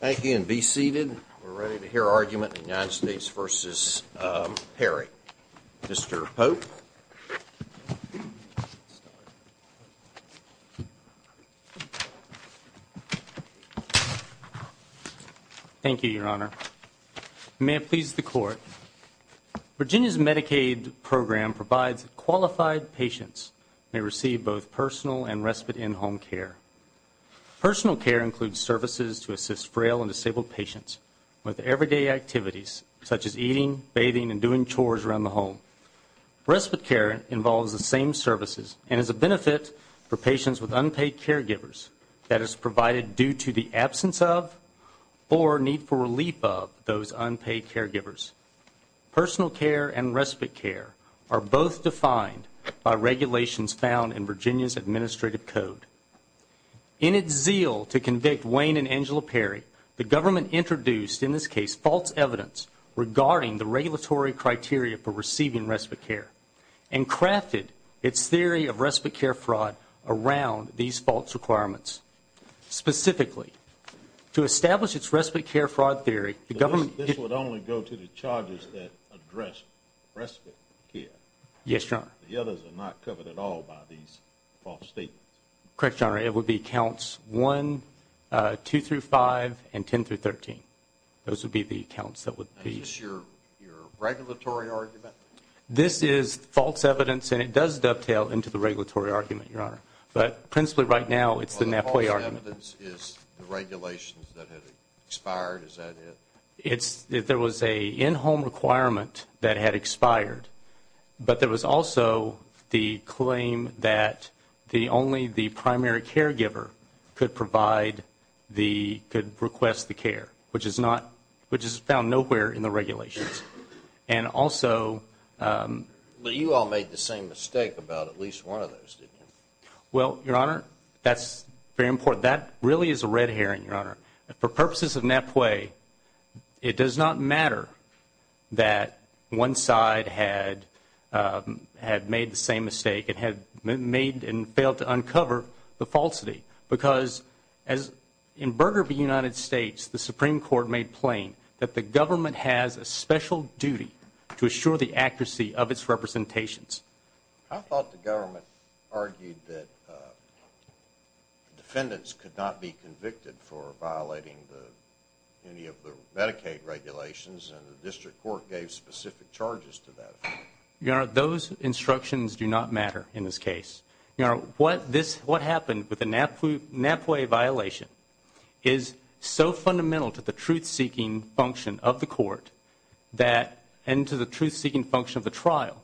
Thank you and be seated. We're ready to hear argument in the United States v. Perry. Mr. Pope. Thank you, Your Honor. May it please the Court, Virginia's Medicaid program provides qualified patients may receive both personal and respite in-home care. Personal care includes services to assist frail and disabled patients with everyday activities, such as eating, bathing, and doing chores around the home. Respite care involves the same services and is a benefit for patients with unpaid caregivers that is provided due to the absence of or need for relief of those unpaid caregivers. Personal care and respite care are both defined by regulations found in Virginia's Administrative Code. In its zeal to convict Wayne and Angela Perry, the government introduced, in this case, false evidence regarding the regulatory criteria for receiving respite care and crafted its theory of respite care fraud around these false requirements. Specifically, to establish its respite care fraud theory, the government This would only go to the charges that address respite care. Yes, Your Honor. The others are not covered at all by these false statements. Correct, Your Honor. It would be counts 1, 2 through 5, and 10 through 13. Those would be the counts that would be Is this your regulatory argument? This is false evidence, and it does dovetail into the regulatory argument, Your Honor. But principally, right now, it's the NAPOI argument. False evidence is the regulations that have expired. Is that it? There was an in-home requirement that had expired, but there was also the claim that only the primary caregiver could request the care, which is found nowhere in the regulations. But you all made the same mistake about at least one of those, didn't you? Well, Your Honor, that's very important. That really is a red herring, Your Honor. For purposes of NAPOI, it does not matter that one side had made the same mistake and had made and failed to uncover the falsity, because as in Burger v. United States, the Supreme Court made plain that the government has a special duty to assure the accuracy of its representations. I thought the government argued that defendants could not be convicted for violating any of the Medicaid regulations, and the district court gave specific charges to that. Your Honor, those instructions do not matter in this case. Your Honor, what happened with the NAPOI violation is so fundamental to the truth-seeking function of the court and to the truth-seeking function of the trial,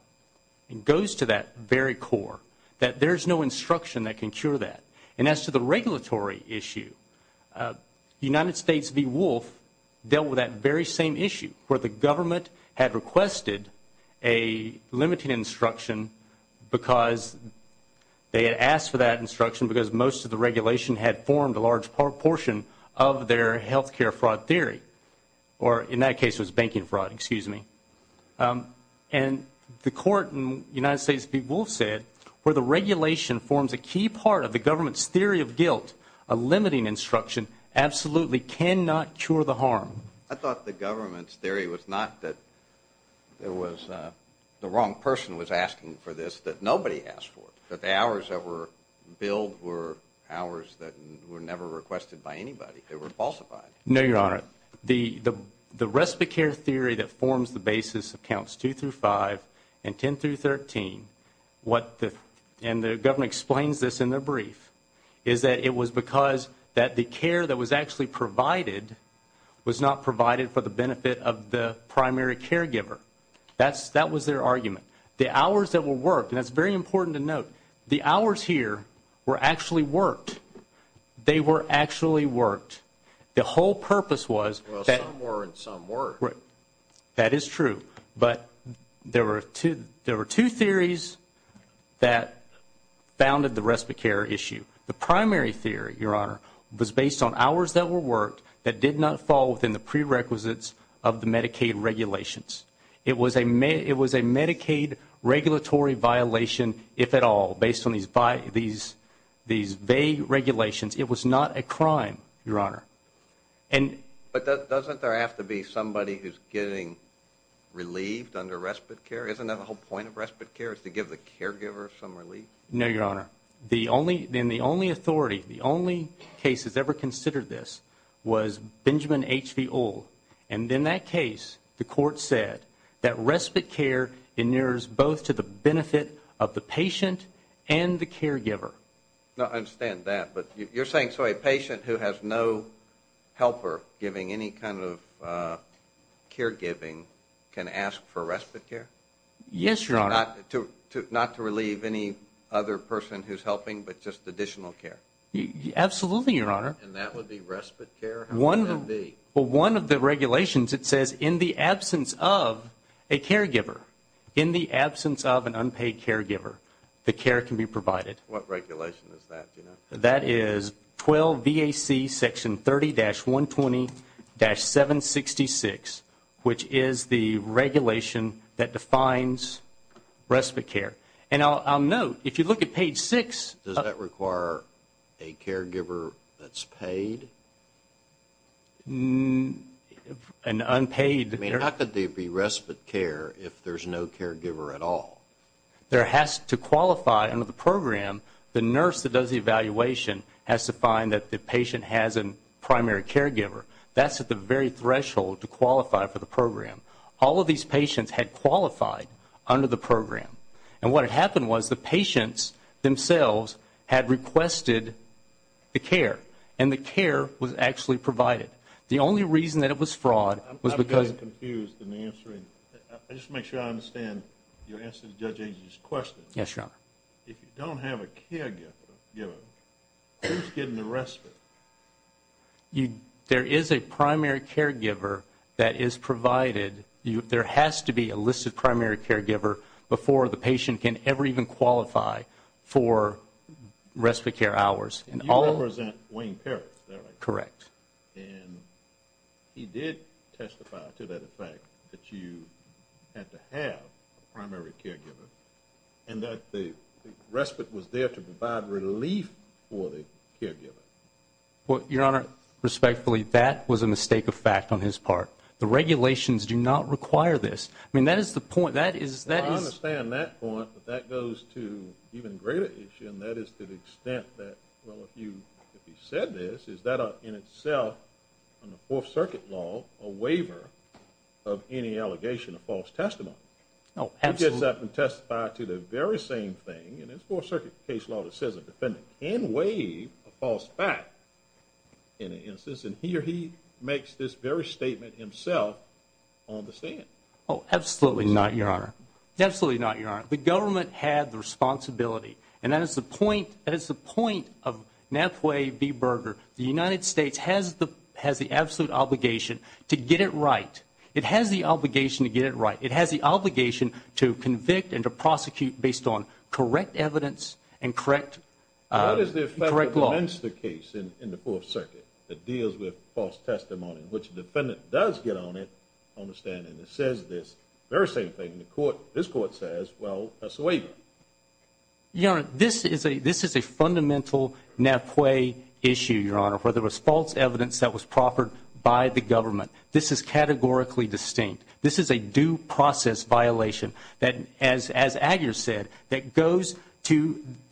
and goes to that very core, that there's no instruction that can cure that. And as to the regulatory issue, United States v. Wolf dealt with that very same issue, where the government had requested a limited instruction because they had asked for that instruction because most of the regulation had formed a large portion of their health care fraud theory, or in that case it was banking fraud, excuse me. And the court in United States v. Wolf said, where the regulation forms a key part of the government's theory of guilt, a limiting instruction absolutely cannot cure the harm. I thought the government's theory was not that the wrong person was asking for this that nobody asked for, that the hours that were billed were hours that were never requested by anybody. They were falsified. No, Your Honor. The respite care theory that forms the basis of counts 2 through 5 and 10 through 13, and the government explains this in their brief, is that it was because that the care that was actually provided was not provided for the benefit of the primary caregiver. That was their argument. The hours that were worked, and that's very important to note, the hours here were actually worked. They were actually worked. The whole purpose was that... Well, some were and some weren't. That is true. But there were two theories that founded the respite care issue. The primary theory, Your Honor, was based on hours that were worked that did not fall within the prerequisites of the Medicaid regulations. It was a Medicaid regulatory violation, if at all, based on these vague regulations. It was not a crime, Your Honor. But doesn't there have to be somebody who's getting relieved under respite care? Isn't that the whole point of respite care is to give the caregiver some relief? No, Your Honor. Then the only authority, the only case that's ever considered this was Benjamin H.V. Old. And in that case, the court said that respite care nears both to the benefit of the patient and the caregiver. No, I understand that. But you're saying so a patient who has no helper giving any kind of caregiving can ask for respite care? Yes, Your Honor. Not to relieve any other person who's helping, but just additional care? Absolutely, Your Honor. And that would be respite care? Well, one of the regulations, it says in the absence of a caregiver, in the absence of an unpaid caregiver, the care can be provided. What regulation is that, do you know? That is 12 V.A.C. Section 30-120-766, which is the regulation that defines respite care. And I'll note, if you look at page 6... Does that require a caregiver that's paid? An unpaid... I mean, how could there be respite care if there's no caregiver at all? There has to qualify under the program. The nurse that does the evaluation has to find that the patient has a primary caregiver. That's at the very threshold to qualify for the program. All of these patients had qualified under the program. And what had happened was the patients themselves had requested the care, and the care was actually provided. The only reason that it was fraud was because... I'm getting confused in answering. I just want to make sure I understand your answer to Judge Angel's question. Yes, Your Honor. If you don't have a caregiver, who's getting the respite? There is a primary caregiver that is provided. There has to be a listed primary caregiver before the patient can ever even qualify for respite care hours. You represent Wayne Parrish, is that right? Correct. And he did testify to that fact that you had to have a primary caregiver and that the respite was there to provide relief for the caregiver. Your Honor, respectfully, that was a mistake of fact on his part. The regulations do not require this. I mean, that is the point. I understand that point, but that goes to an even greater issue, and that is to the extent that, well, if he said this, is that in itself in the Fourth Circuit law a waiver of any allegation, a false testimony? He gets up and testifies to the very same thing in his Fourth Circuit case law that says a defendant can waive a false fact in an instance, and he or he makes this very statement himself on the stand. Absolutely not, Your Honor. The government had the responsibility, and that is the point. That is the point of Nathway B. Berger. The United States has the absolute obligation to get it right. It has the obligation to get it right. It has the obligation to convict and to prosecute based on correct evidence and correct law. What is the effect of the Menster case in the Fourth Circuit that deals with false testimony, in which the defendant does get on it on the stand and says this very same thing? And this Court says, well, that's a waiver. Your Honor, this is a fundamental Nathway issue, Your Honor, where there was false evidence that was proffered by the government. This is categorically distinct. This is a due process violation that, as Aguirre said, that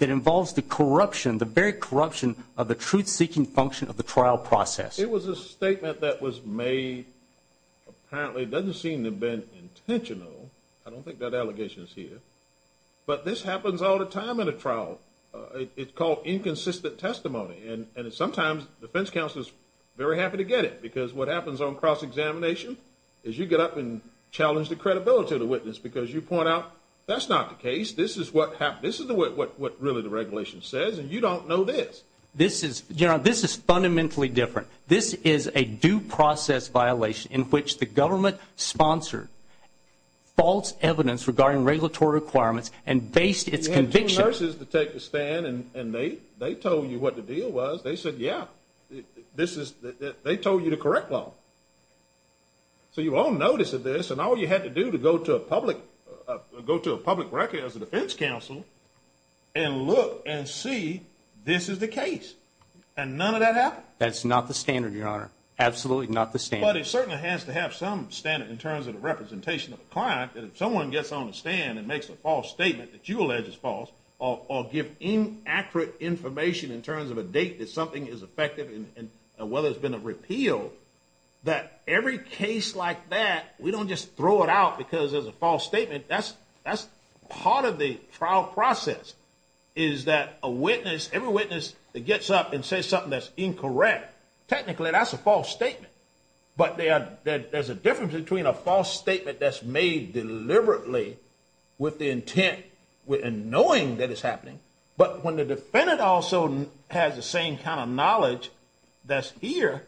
involves the corruption, the very corruption of the truth-seeking function of the trial process. It was a statement that was made. Apparently it doesn't seem to have been intentional. I don't think that allegation is here. But this happens all the time in a trial. It's called inconsistent testimony, and sometimes defense counsel is very happy to get it because what happens on cross-examination is you get up and challenge the credibility of the witness because you point out that's not the case. This is what really the regulation says, and you don't know this. Your Honor, this is fundamentally different. This is a due process violation in which the government sponsored false evidence regarding regulatory requirements and based its conviction. You had two nurses to take the stand, and they told you what the deal was. They said, yeah, they told you the correct law. So you all noticed this, and all you had to do to go to a public record as a That's not the standard, Your Honor. Absolutely not the standard. But it certainly has to have some standard in terms of the representation of the client. If someone gets on the stand and makes a false statement that you allege is false or give inaccurate information in terms of a date that something is effective and whether it's been a repeal, that every case like that, we don't just throw it out because there's a false statement. That's part of the trial process is that a witness, every witness that gets up and says something that's incorrect, technically that's a false statement. But there's a difference between a false statement that's made deliberately with the intent and knowing that it's happening, but when the defendant also has the same kind of knowledge that's here,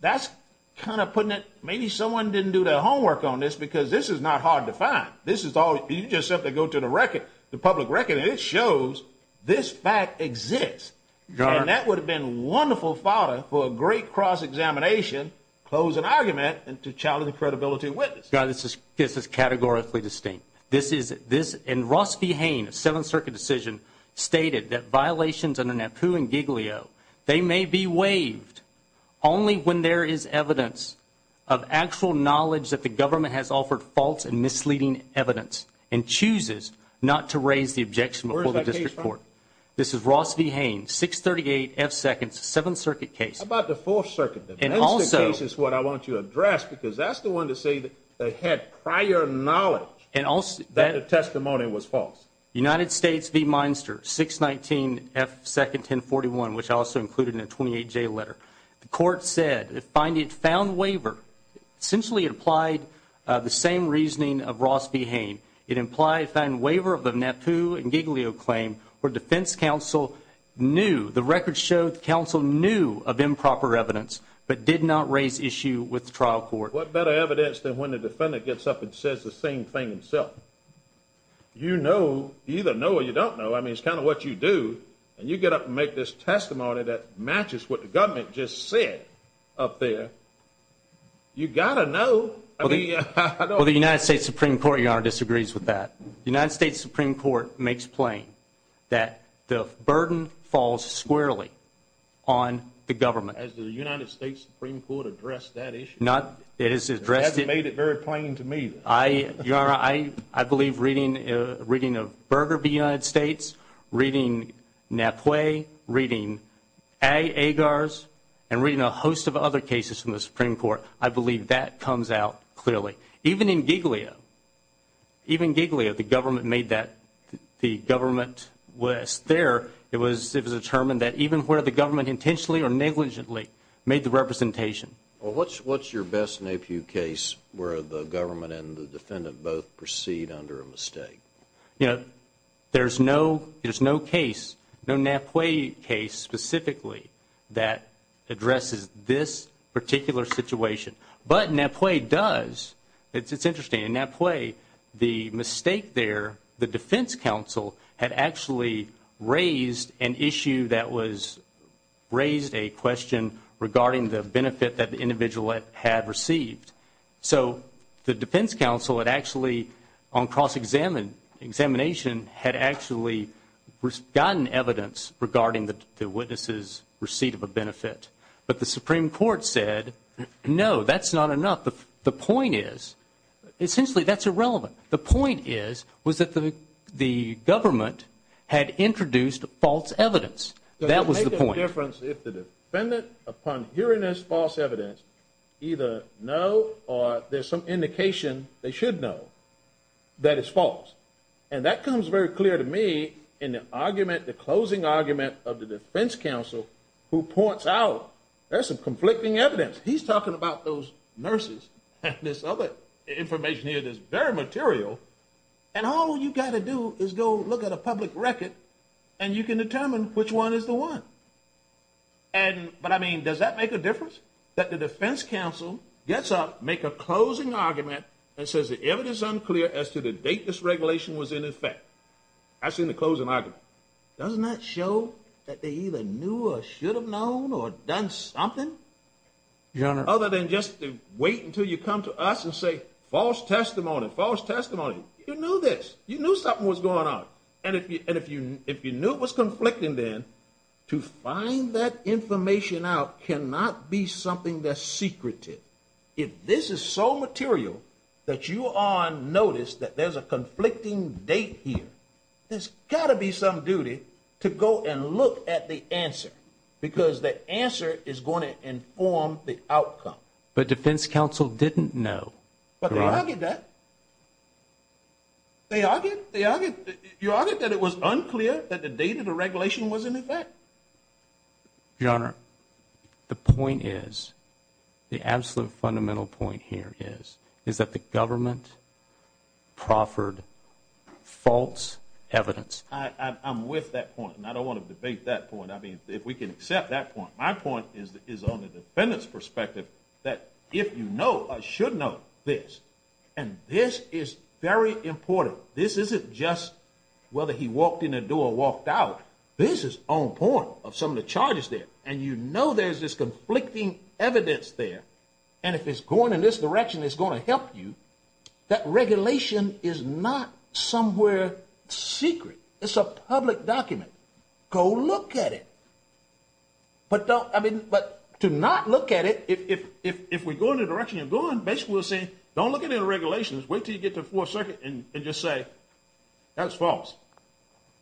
that's kind of putting it, maybe someone didn't do their homework on this because this is not hard to find. You just have to go to the record, the public record, and it shows this fact exists. And that would have been wonderful fodder for a great cross-examination, close an argument, and to challenge the credibility of witnesses. This is categorically distinct. This is, and Ross V. Hain of Seventh Circuit Decision stated that violations under NAPU and Giglio, they may be waived only when there is evidence of actual knowledge that the government has offered false and misleading evidence and chooses not to raise the objection before the district court. This is Ross V. Hain, 638 F Seconds, Seventh Circuit case. How about the Fourth Circuit? And also, This is what I want you to address because that's the one to say that they had prior knowledge that the testimony was false. United States v. Minster, 619 F Second, 1041, which also included in a 28-J letter. The court said it found waiver, essentially it applied the same reasoning of Ross V. Hain. It implied a fine waiver of the NAPU and Giglio claim, where defense counsel knew, the record showed the counsel knew of improper evidence, but did not raise issue with the trial court. What better evidence than when the defendant gets up and says the same thing himself? You know, you either know or you don't know. I mean, it's kind of what you do, and you get up and make this testimony that matches what the government just said up there. You got to know. Well, the United States Supreme Court, Your Honor, disagrees with that. The United States Supreme Court makes plain that the burden falls squarely on the government. Has the United States Supreme Court addressed that issue? It has addressed it. It hasn't made it very plain to me. Your Honor, I believe reading of Berger v. United States, reading Napue, reading Agars, and reading a host of other cases from the Supreme Court, I believe that comes out clearly. Even in Giglio, even in Giglio, the government was there. It was determined that even where the government intentionally or negligently made the representation. Well, what's your best Napue case where the government and the defendant both proceed under a mistake? You know, there's no case, no Napue case specifically, that addresses this particular situation. But Napue does. It's interesting. In Napue, the mistake there, the defense counsel had actually raised an issue that was raised a question regarding the benefit that the individual had received. So, the defense counsel had actually on cross-examination had actually gotten evidence regarding the witness' receipt of a benefit. But the Supreme Court said, no, that's not enough. The point is, essentially, that's irrelevant. The point is, was that the government had introduced false evidence. That was the point. Does it make a difference if the defendant, upon hearing this false evidence, either no or there's some indication they should know that it's false? And that comes very clear to me in the argument, the closing argument of the defense counsel, who points out there's some conflicting evidence. He's talking about those nurses and this other information here that's very material. And all you've got to do is go look at a public record and you can determine which one is the one. But, I mean, does that make a difference that the defense counsel gets up, make a closing argument, and says the evidence is unclear as to the date this regulation was in effect? That's in the closing argument. Doesn't that show that they either knew or should have known or done something? Your Honor. Other than just to wait until you come to us and say, false testimony, false testimony. You knew this. You knew something was going on. And if you knew it was conflicting then, to find that information out cannot be something that's secretive. If this is so material that you are on notice that there's a conflicting date here, there's got to be some duty to go and look at the answer because that answer is going to inform the outcome. But defense counsel didn't know. But they argued that. They argued that it was unclear that the date of the regulation was in effect. Your Honor, the point is, the absolute fundamental point here is, is that the government proffered false evidence. I'm with that point. And I don't want to debate that point. I mean, if we can accept that point, my point is on the defendant's perspective, that if you know or should know this, and this is very important. This isn't just whether he walked in the door or walked out. This is on point of some of the charges there. And you know, there's this conflicting evidence there. And if it's going in this direction, it's going to help you. That regulation is not somewhere secret. It's a public document. Go look at it. But don't, I mean, but to not look at it, if, if, if, if we go in the direction of going base, we'll say, don't look at it in regulations. Wait till you get to the fourth circuit and just say, that's false.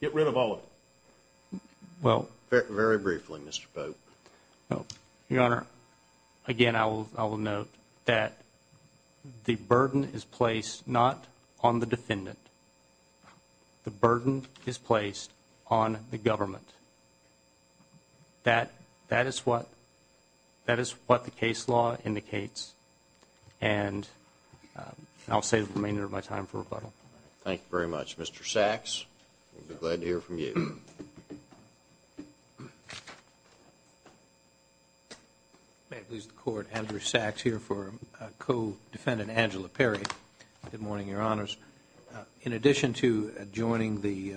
Get rid of all of it. Well, very briefly, Mr. Pope. Oh, your honor. Again, I will, I will note that the burden is placed, not on the defendant. The burden is placed on the government. That, that is what, that is what the case law indicates. And I'll say the remainder of my time for rebuttal. Thank you very much, Mr. Sacks. We'll be glad to hear from you. May it please the court, Andrew Sacks here for co-defendant, Angela Perry. Good morning, your honors. In addition to joining the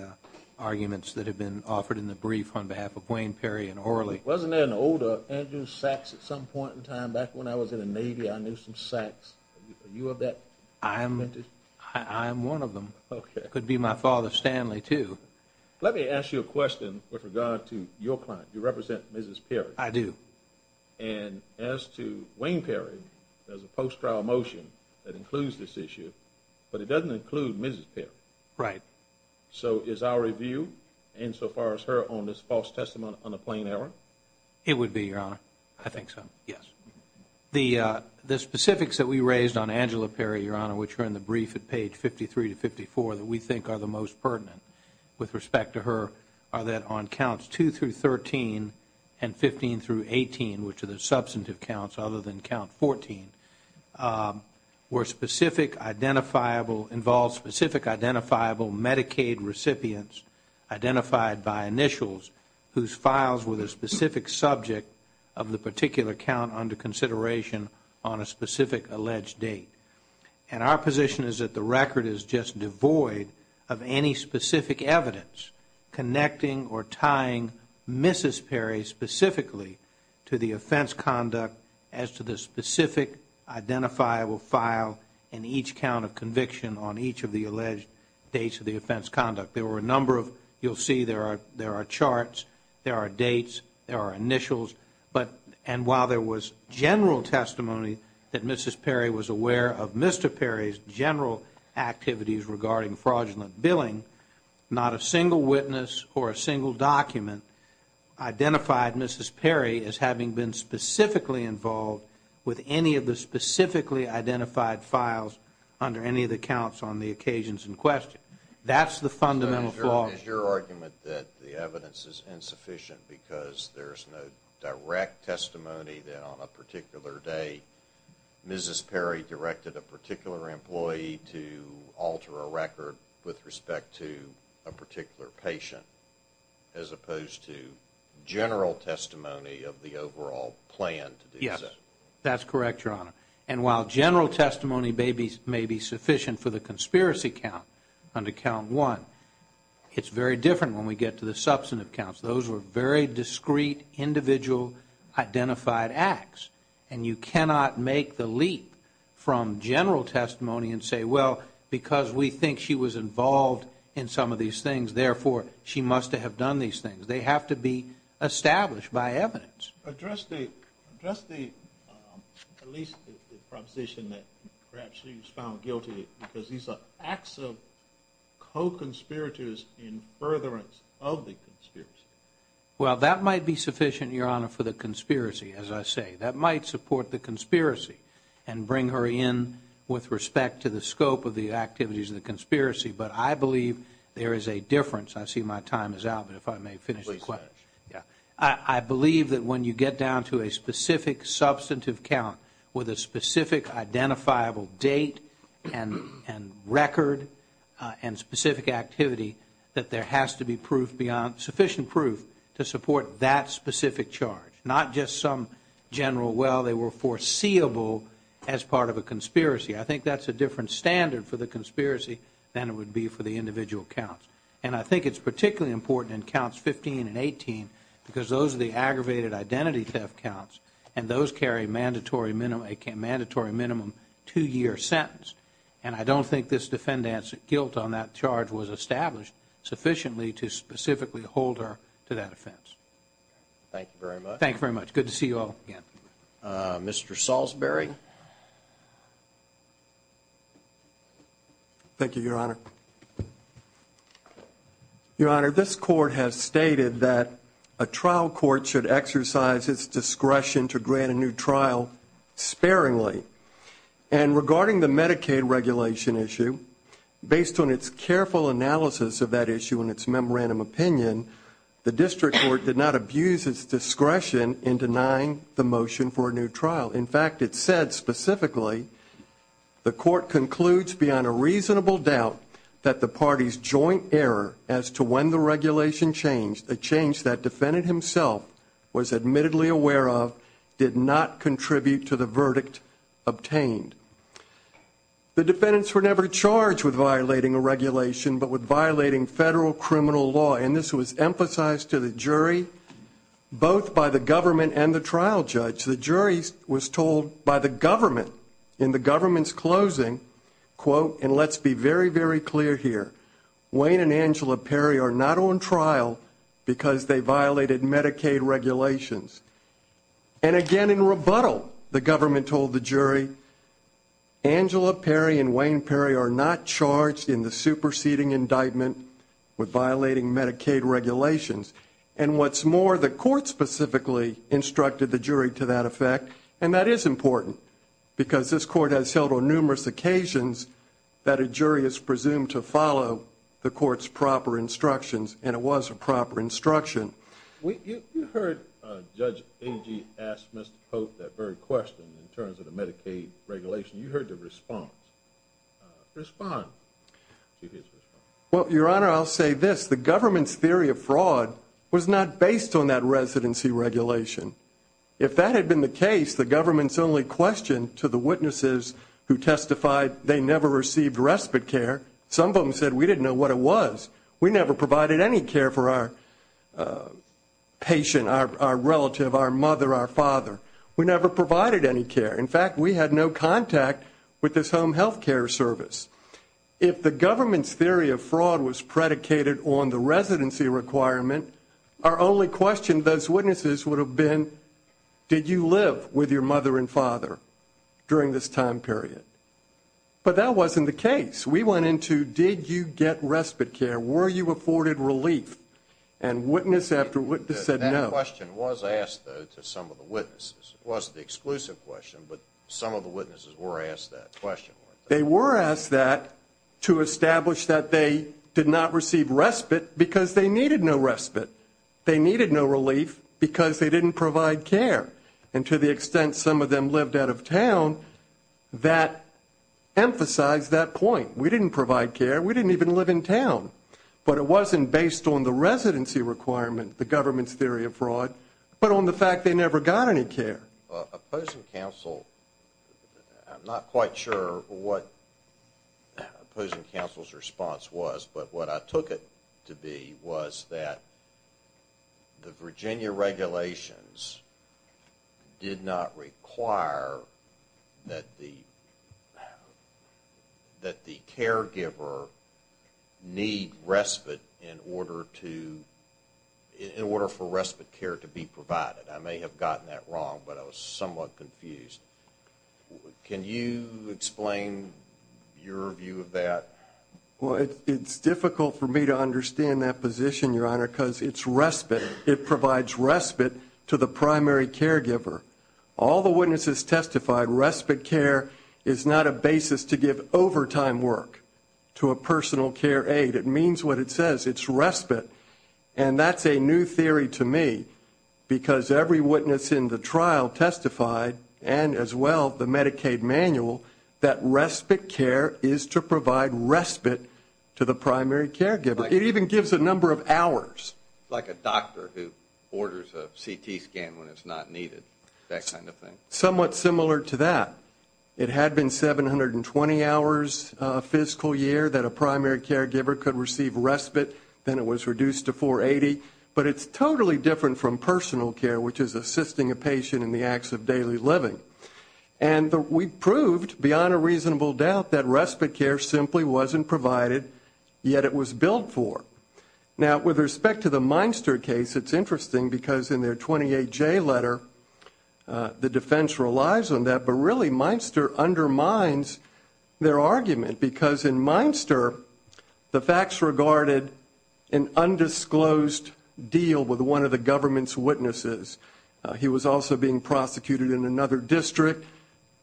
arguments that have been offered in the brief on behalf of Wayne Perry and Orly. Wasn't there an older Andrew Sacks at some point in time, back when I was in the Navy, I knew some Sacks. Are you of that? I am. I am one of them. Okay. That would be my father, Stanley too. Let me ask you a question with regard to your client. You represent Mrs. Perry. I do. And as to Wayne Perry, there's a post-trial motion that includes this issue, but it doesn't include Mrs. Perry. Right. So is our review insofar as her on this false testimony on a plain error? It would be, your honor. I think so. Yes. The, the specifics that we raised on Angela Perry, your honor, which are in the brief at page 53 to 54 that we think are the most pertinent with respect to her, are that on counts 2 through 13 and 15 through 18, which are the substantive counts other than count 14, were specific identifiable, involved specific identifiable Medicaid recipients identified by initials whose files were the specific subject of the particular count under consideration on a specific alleged date. And our position is that the record is just devoid of any specific evidence connecting or tying Mrs. Perry specifically to the offense conduct as to the specific identifiable file in each count of conviction on each of the alleged dates of the offense conduct. There were a number of, you'll see there are, there are charts, there are dates, there are initials, but, and while there was general testimony that Mrs. Perry was aware of Mr. Perry's general activities regarding fraudulent billing, not a single witness or a single document identified Mrs. Perry as having been specifically involved with any of the specifically identified files under any of the counts on the occasions in question. That's the fundamental flaw. Is your argument that the evidence is insufficient because there's no direct testimony that on a particular day Mrs. Perry directed a particular employee to alter a record with respect to a particular patient as opposed to general testimony of the overall plan to do so? Yes. That's correct, Your Honor. And while general testimony may be sufficient for the conspiracy count under count one, it's very different when we get to the substantive counts. Those were very discrete, individual identified acts, and you cannot make the leap from general testimony and say, well, because we think she was involved in some of these things, therefore she must have done these things. They have to be established by evidence. Address the, address the, at least the proposition that perhaps she was found guilty because these are acts of co-conspirators in furtherance of the conspiracy. Well, that might be sufficient, Your Honor, for the conspiracy, as I say. That might support the conspiracy and bring her in with respect to the scope of the activities of the conspiracy, but I believe there is a difference. I see my time is out, but if I may finish the question. Please finish. Yeah. I believe that when you get down to a specific substantive count with a specific activity, that there has to be sufficient proof to support that specific charge, not just some general, well, they were foreseeable as part of a conspiracy. I think that's a different standard for the conspiracy than it would be for the individual counts, and I think it's particularly important in counts 15 and 18 because those are the aggravated identity theft counts, and those carry a mandatory minimum two-year sentence, and I don't think this defendant's guilt on that charge was established sufficiently to specifically hold her to that offense. Thank you very much. Thank you very much. Good to see you all again. Mr. Salisbury. Thank you, Your Honor. Your Honor, this court has stated that a trial court should exercise its discretion to grant a new trial sparingly, and regarding the Medicaid regulation issue, based on its careful analysis of that issue in its memorandum opinion, the district court did not abuse its discretion in denying the motion for a new trial. In fact, it said specifically the court concludes beyond a reasonable doubt that the party's joint error as to when the regulation changed, a change that defendant himself was admittedly aware of, did not contribute to the verdict obtained. The defendants were never charged with violating a regulation but with violating federal criminal law, and this was emphasized to the jury both by the government and the trial judge. The jury was told by the government in the government's closing, quote, and let's be very, very clear here, Wayne and Angela Perry are not on trial because they violated Medicaid regulations. And again in rebuttal, the government told the jury, Angela Perry and Wayne Perry are not charged in the superseding indictment with violating Medicaid regulations. And what's more, the court specifically instructed the jury to that effect, and that is important because this court has held on numerous occasions that a jury is presumed to follow the court's proper instructions, and it was a proper instruction. You heard Judge Agee ask Mr. Pope that very question in terms of the Medicaid regulation. You heard the response. Respond. Well, Your Honor, I'll say this. The government's theory of fraud was not based on that residency regulation. If that had been the case, the government's only question to the witnesses who testified they never received respite care, some of them said we didn't know what it was. We never provided any care for our patient, our relative, our mother, our father. We never provided any care. In fact, we had no contact with this home health care service. If the government's theory of fraud was predicated on the residency requirement, our only question to those witnesses would have been, did you live with your mother and father during this time period? But that wasn't the case. We went into, did you get respite care? Were you afforded relief? And witness after witness said no. That question was asked, though, to some of the witnesses. It wasn't the exclusive question, but some of the witnesses were asked that question. They were asked that to establish that they did not receive respite because they needed no respite. They needed no relief because they didn't provide care. And to the extent some of them lived out of town, that emphasized that point. We didn't provide care. We didn't even live in town. But it wasn't based on the residency requirement, the government's theory of fraud, but on the fact they never got any care. Opposing counsel, I'm not quite sure what opposing counsel's response was, but what I took it to be was that the Virginia regulations did not require that the caregiver need respite in order for respite care to be provided. I may have gotten that wrong, but I was somewhat confused. Can you explain your view of that? Well, it's difficult for me to understand that position, Your Honor, because it's respite. It provides respite to the primary caregiver. All the witnesses testified respite care is not a basis to give overtime work to a personal care aide. It means what it says. It's respite. And that's a new theory to me because every witness in the trial testified, and as well the Medicaid manual, that respite care is to provide respite to the primary caregiver. It even gives a number of hours. It's like a doctor who orders a CT scan when it's not needed, that kind of thing. Somewhat similar to that. It had been 720 hours a fiscal year that a primary caregiver could receive respite. Then it was reduced to 480. But it's totally different from personal care, which is assisting a patient in the acts of daily living. And we proved, beyond a reasonable doubt, that respite care simply wasn't provided, yet it was billed for. Now, with respect to the Meinster case, it's interesting because in their 28J letter, the defense relies on that. But really, Meinster undermines their argument because in Meinster, the facts regarded an undisclosed deal with one of the government's witnesses. He was also being prosecuted in another district.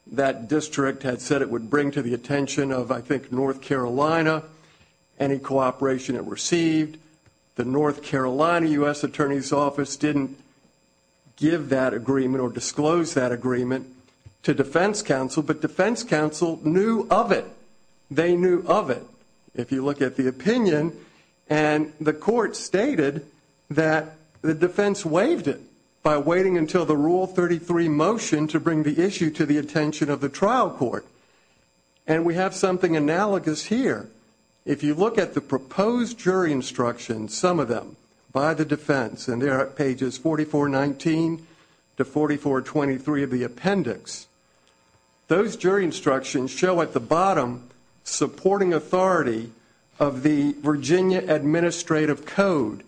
That district had said it would bring to the attention of, I think, North Carolina, any cooperation it received. The North Carolina U.S. Attorney's Office didn't give that agreement or disclose that agreement to defense counsel, but defense counsel knew of it. They knew of it, if you look at the opinion. And the court stated that the defense waived it by waiting until the Rule 33 motion to bring the issue to the attention of the trial court. And we have something analogous here. If you look at the proposed jury instructions, some of them, by the defense, and they're at pages 4419 to 4423 of the appendix, those jury instructions show at the bottom, supporting authority of the Virginia Administrative Code.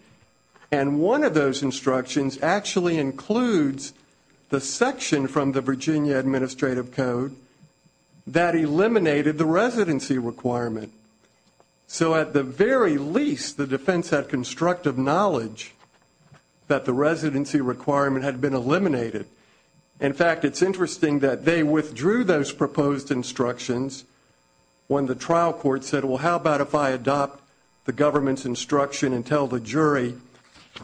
And one of those instructions actually includes the section from the Virginia Administrative Code that eliminated the residency requirement. So at the very least, the defense had constructive knowledge that the residency requirement had been eliminated. In fact, it's interesting that they withdrew those proposed instructions when the trial court said, well, how about if I adopt the government's instruction and tell the jury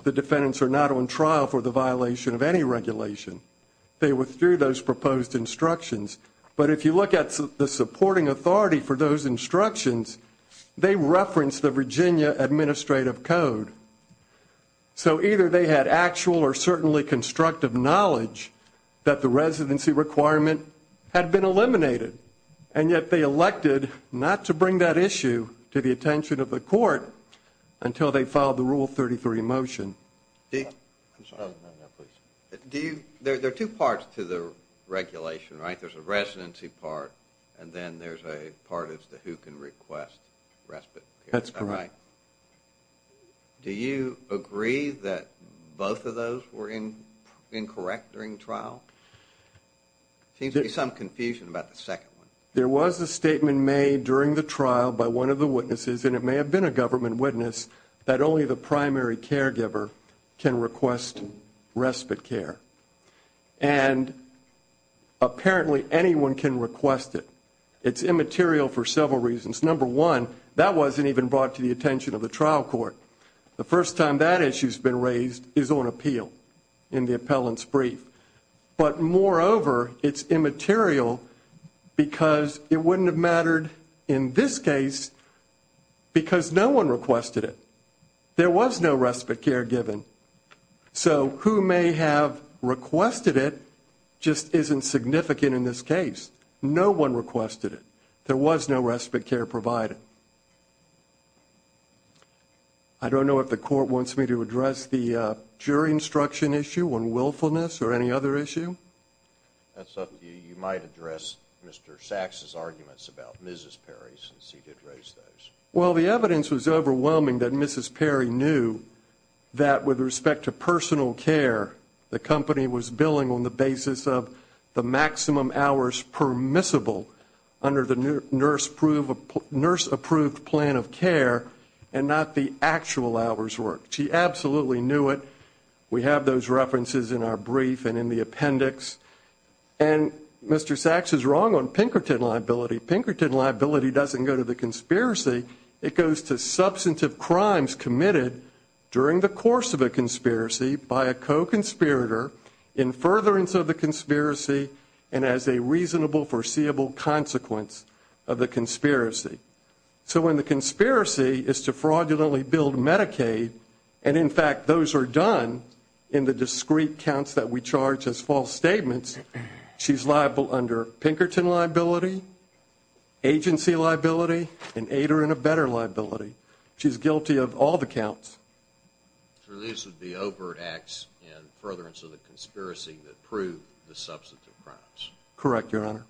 the defendants are not on trial for the violation of any regulation? They withdrew those proposed instructions. But if you look at the supporting authority for those instructions, they referenced the Virginia Administrative Code. So either they had actual or certainly constructive knowledge that the residency requirement had been eliminated, and yet they elected not to bring that issue to the attention of the court until they filed the Rule 33 motion. There are two parts to the regulation, right? There's a residency part, and then there's a part as to who can request respite. That's correct. Do you agree that both of those were incorrect during the trial? There seems to be some confusion about the second one. There was a statement made during the trial by one of the witnesses, and it may have been a government witness, that only the primary caregiver can request respite care, and apparently anyone can request it. It's immaterial for several reasons. Number one, that wasn't even brought to the attention of the trial court. The first time that issue's been raised is on appeal in the appellant's brief. But moreover, it's immaterial because it wouldn't have mattered in this case because no one requested it. There was no respite care given. So who may have requested it just isn't significant in this case. No one requested it. There was no respite care provided. I don't know if the court wants me to address the jury instruction issue on willfulness or any other issue. That's up to you. You might address Mr. Sachs' arguments about Mrs. Perry since he did raise those. Well, the evidence was overwhelming that Mrs. Perry knew that with respect to personal care, the company was billing on the basis of the maximum hours permissible under the nurse-approved plan of care and not the actual hours worked. She absolutely knew it. We have those references in our brief and in the appendix. And Mr. Sachs is wrong on Pinkerton liability. Pinkerton liability doesn't go to the conspiracy. It goes to substantive crimes committed during the course of a conspiracy by a co-conspirator in furtherance of the conspiracy and as a reasonable, foreseeable consequence of the conspiracy. So when the conspiracy is to fraudulently bill Medicaid, and in fact those are done in the discreet counts that we charge as false statements, she's liable under Pinkerton liability, agency liability, and ADA and ABETA liability. She's guilty of all the counts. So this would be overt acts in furtherance of the conspiracy that prove the substantive crimes. Correct, Your Honor. Thank you, Your Honor.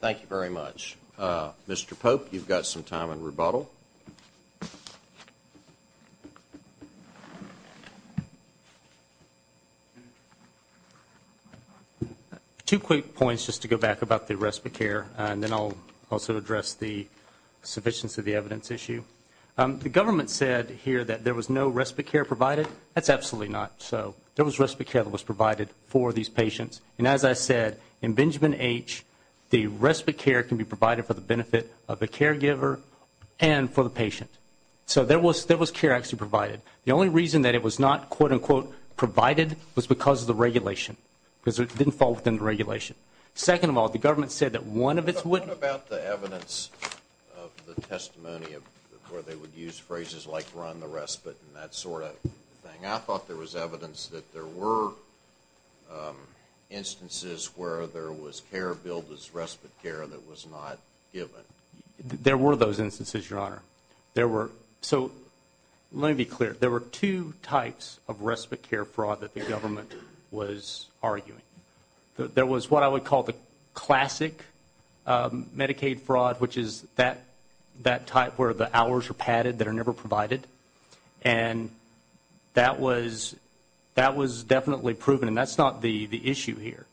Thank you very much. Mr. Pope, you've got some time on rebuttal. Two quick points just to go back about the respite care, and then I'll also address the sufficiency of the evidence issue. The government said here that there was no respite care provided. That's absolutely not so. There was respite care that was provided for these patients. And as I said, in Benjamin H., the respite care can be provided for the benefit of the caregiver and for the patient. So there was care actually provided. The only reason that it was not, quote-unquote, provided was because of the regulation, because it didn't fall within the regulation. Second of all, the government said that one of its wouldn't. What about the evidence of the testimony where they would use phrases like run the respite and that sort of thing? I thought there was evidence that there were instances where there was care billed as respite care that was not given. There were those instances, Your Honor. So let me be clear. There were two types of respite care fraud that the government was arguing. There was what I would call the classic Medicaid fraud, which is that type where the hours are padded that are never provided, and that was definitely proven, and that's not the issue here.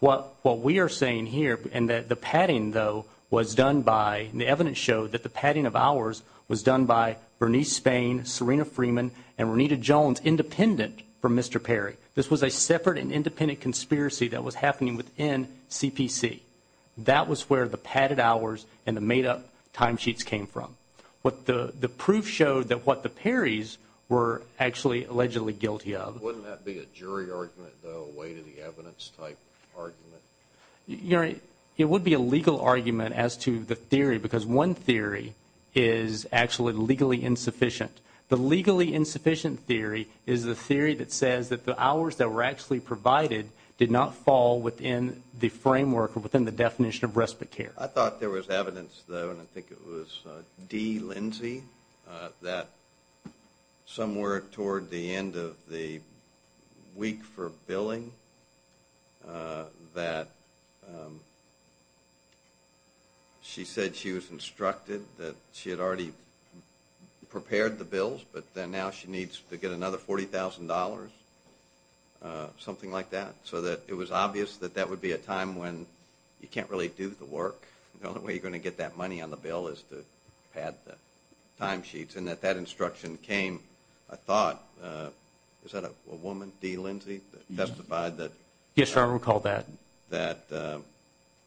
What we are saying here, and the padding, though, was done by, and the evidence showed that the padding of hours was done by Bernice Spain, Serena Freeman, and Renita Jones, independent from Mr. Perry. This was a separate and independent conspiracy that was happening within CPC. That was where the padded hours and the made-up timesheets came from. The proof showed that what the Perrys were actually allegedly guilty of. Wouldn't that be a jury argument, though, a way-to-the-evidence type argument? Your Honor, it would be a legal argument as to the theory because one theory is actually legally insufficient. The legally insufficient theory is the theory that says that the hours that were actually provided did not fall within the framework or within the definition of respite care. I thought there was evidence, though, and I think it was Dee Lindsey, that somewhere toward the end of the week for billing that she said she was instructed that she had already prepared the bills, but now she needs to get another $40,000, something like that, so that it was obvious that that would be a time when you can't really do the work. The only way you're going to get that money on the bill is to pad the timesheets, and that that instruction came, I thought, is that a woman, Dee Lindsey, that testified that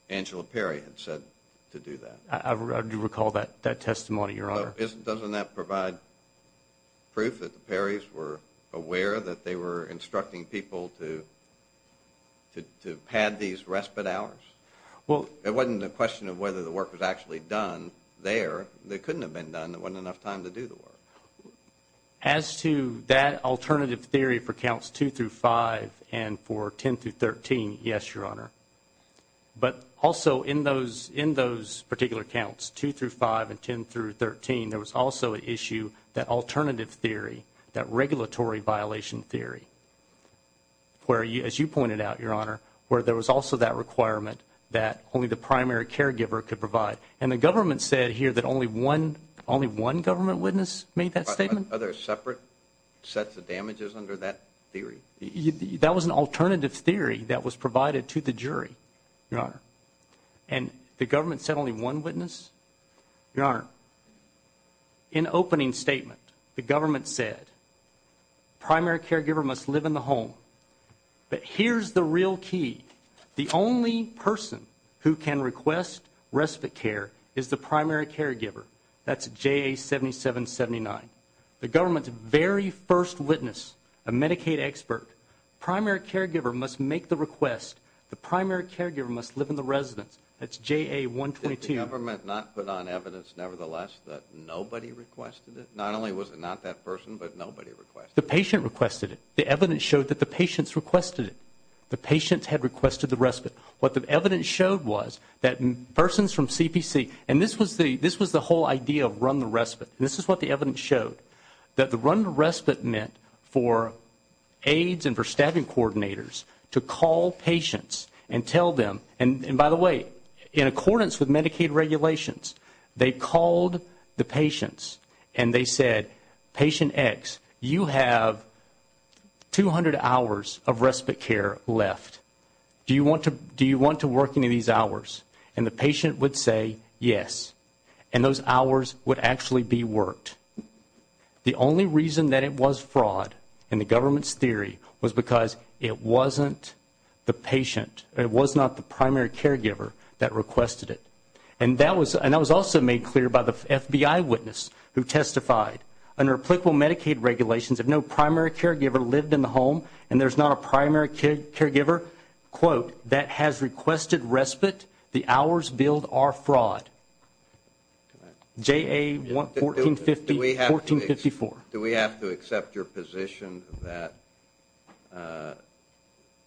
Angela Perry had said to do that? I do recall that testimony, Your Honor. Doesn't that provide proof that the Perrys were aware that they were instructing people to pad these respite hours? It wasn't a question of whether the work was actually done there. It couldn't have been done. There wasn't enough time to do the work. As to that alternative theory for counts 2 through 5 and for 10 through 13, yes, Your Honor. But also in those particular counts, 2 through 5 and 10 through 13, there was also an issue, that alternative theory, that regulatory violation theory, where, as you pointed out, Your Honor, where there was also that requirement that only the primary caregiver could provide. And the government said here that only one government witness made that statement? Are there separate sets of damages under that theory? That was an alternative theory that was provided to the jury, Your Honor. And the government said only one witness? Your Honor, in opening statement, the government said primary caregiver must live in the home. But here's the real key. The only person who can request respite care is the primary caregiver. That's JA-7779. The government's very first witness, a Medicaid expert, primary caregiver must make the request. The primary caregiver must live in the residence. That's JA-122. Did the government not put on evidence, nevertheless, that nobody requested it? Not only was it not that person, but nobody requested it. The patient requested it. The evidence showed that the patients requested it. The patients had requested the respite. What the evidence showed was that persons from CPC, and this was the whole idea of run the respite, and this is what the evidence showed, that the run the respite meant for aides and for staffing coordinators to call patients and tell them, and by the way, in accordance with Medicaid regulations, they called the patients and they said, Patient X, you have 200 hours of respite care left. Do you want to work any of these hours? And the patient would say yes. And those hours would actually be worked. The only reason that it was fraud, in the government's theory, was because it wasn't the patient, it was not the primary caregiver that requested it. And that was also made clear by the FBI witness who testified. Under applicable Medicaid regulations, if no primary caregiver lived in the home and there's not a primary caregiver, quote, that has requested respite, the hours billed are fraud. JA 1454. Do we have to accept your position that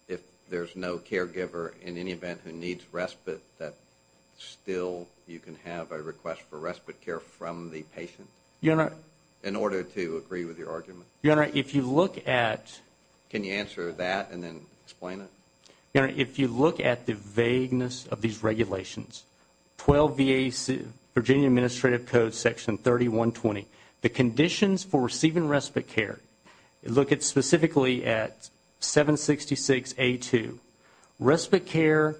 if there's no caregiver, in any event, who needs respite, that still you can have a request for respite care from the patient? Your Honor. In order to agree with your argument? Your Honor, if you look at... Can you answer that and then explain it? Your Honor, if you look at the vagueness of these regulations, 12 VA Virginia Administrative Code Section 3120, the conditions for receiving respite care, look specifically at 766A2, respite care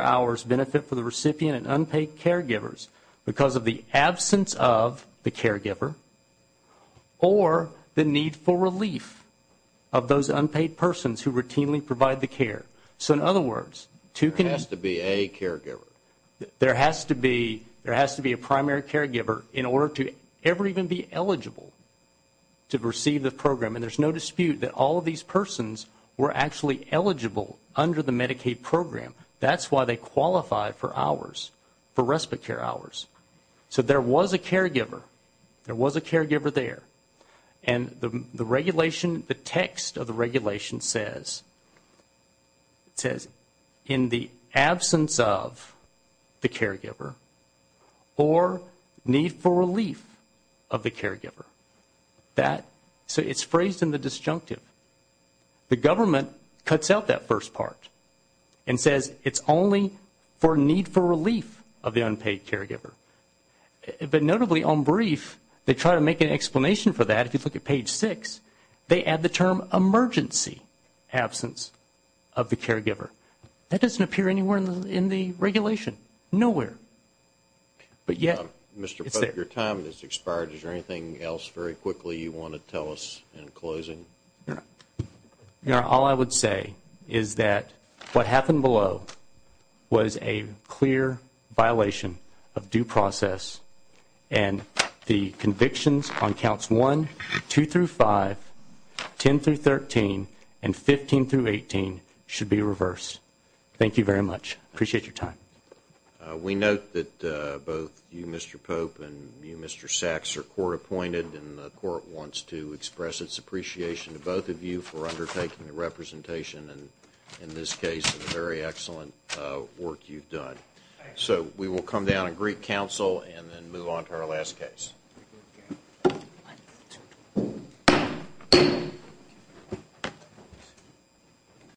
hours benefit for the recipient and unpaid caregivers because of the absence of the caregiver or the need for relief of those unpaid persons who routinely provide the care. So in other words... There has to be a caregiver. There has to be a primary caregiver in order to ever even be eligible to receive the program. And there's no dispute that all of these persons were actually eligible under the Medicaid program. That's why they qualified for hours, for respite care hours. So there was a caregiver. There was a caregiver there. And the regulation, the text of the regulation says, it says, in the absence of the caregiver or need for relief of the caregiver. So it's phrased in the disjunctive. The government cuts out that first part and says it's only for need for relief of the unpaid caregiver. But notably on brief, they try to make an explanation for that. If you look at page six, they add the term emergency absence of the caregiver. That doesn't appear anywhere in the regulation. Nowhere. But yet... Mr. Pope, your time has expired. Is there anything else very quickly you want to tell us in closing? All I would say is that what happened below was a clear violation of due process, and the convictions on counts 1, 2 through 5, 10 through 13, and 15 through 18 should be reversed. Thank you very much. Appreciate your time. We note that both you, Mr. Pope, and you, Mr. Sachs, are court-appointed, and the court wants to express its appreciation to both of you for undertaking the representation, and in this case, the very excellent work you've done. So we will come down and greet counsel and then move on to our last case.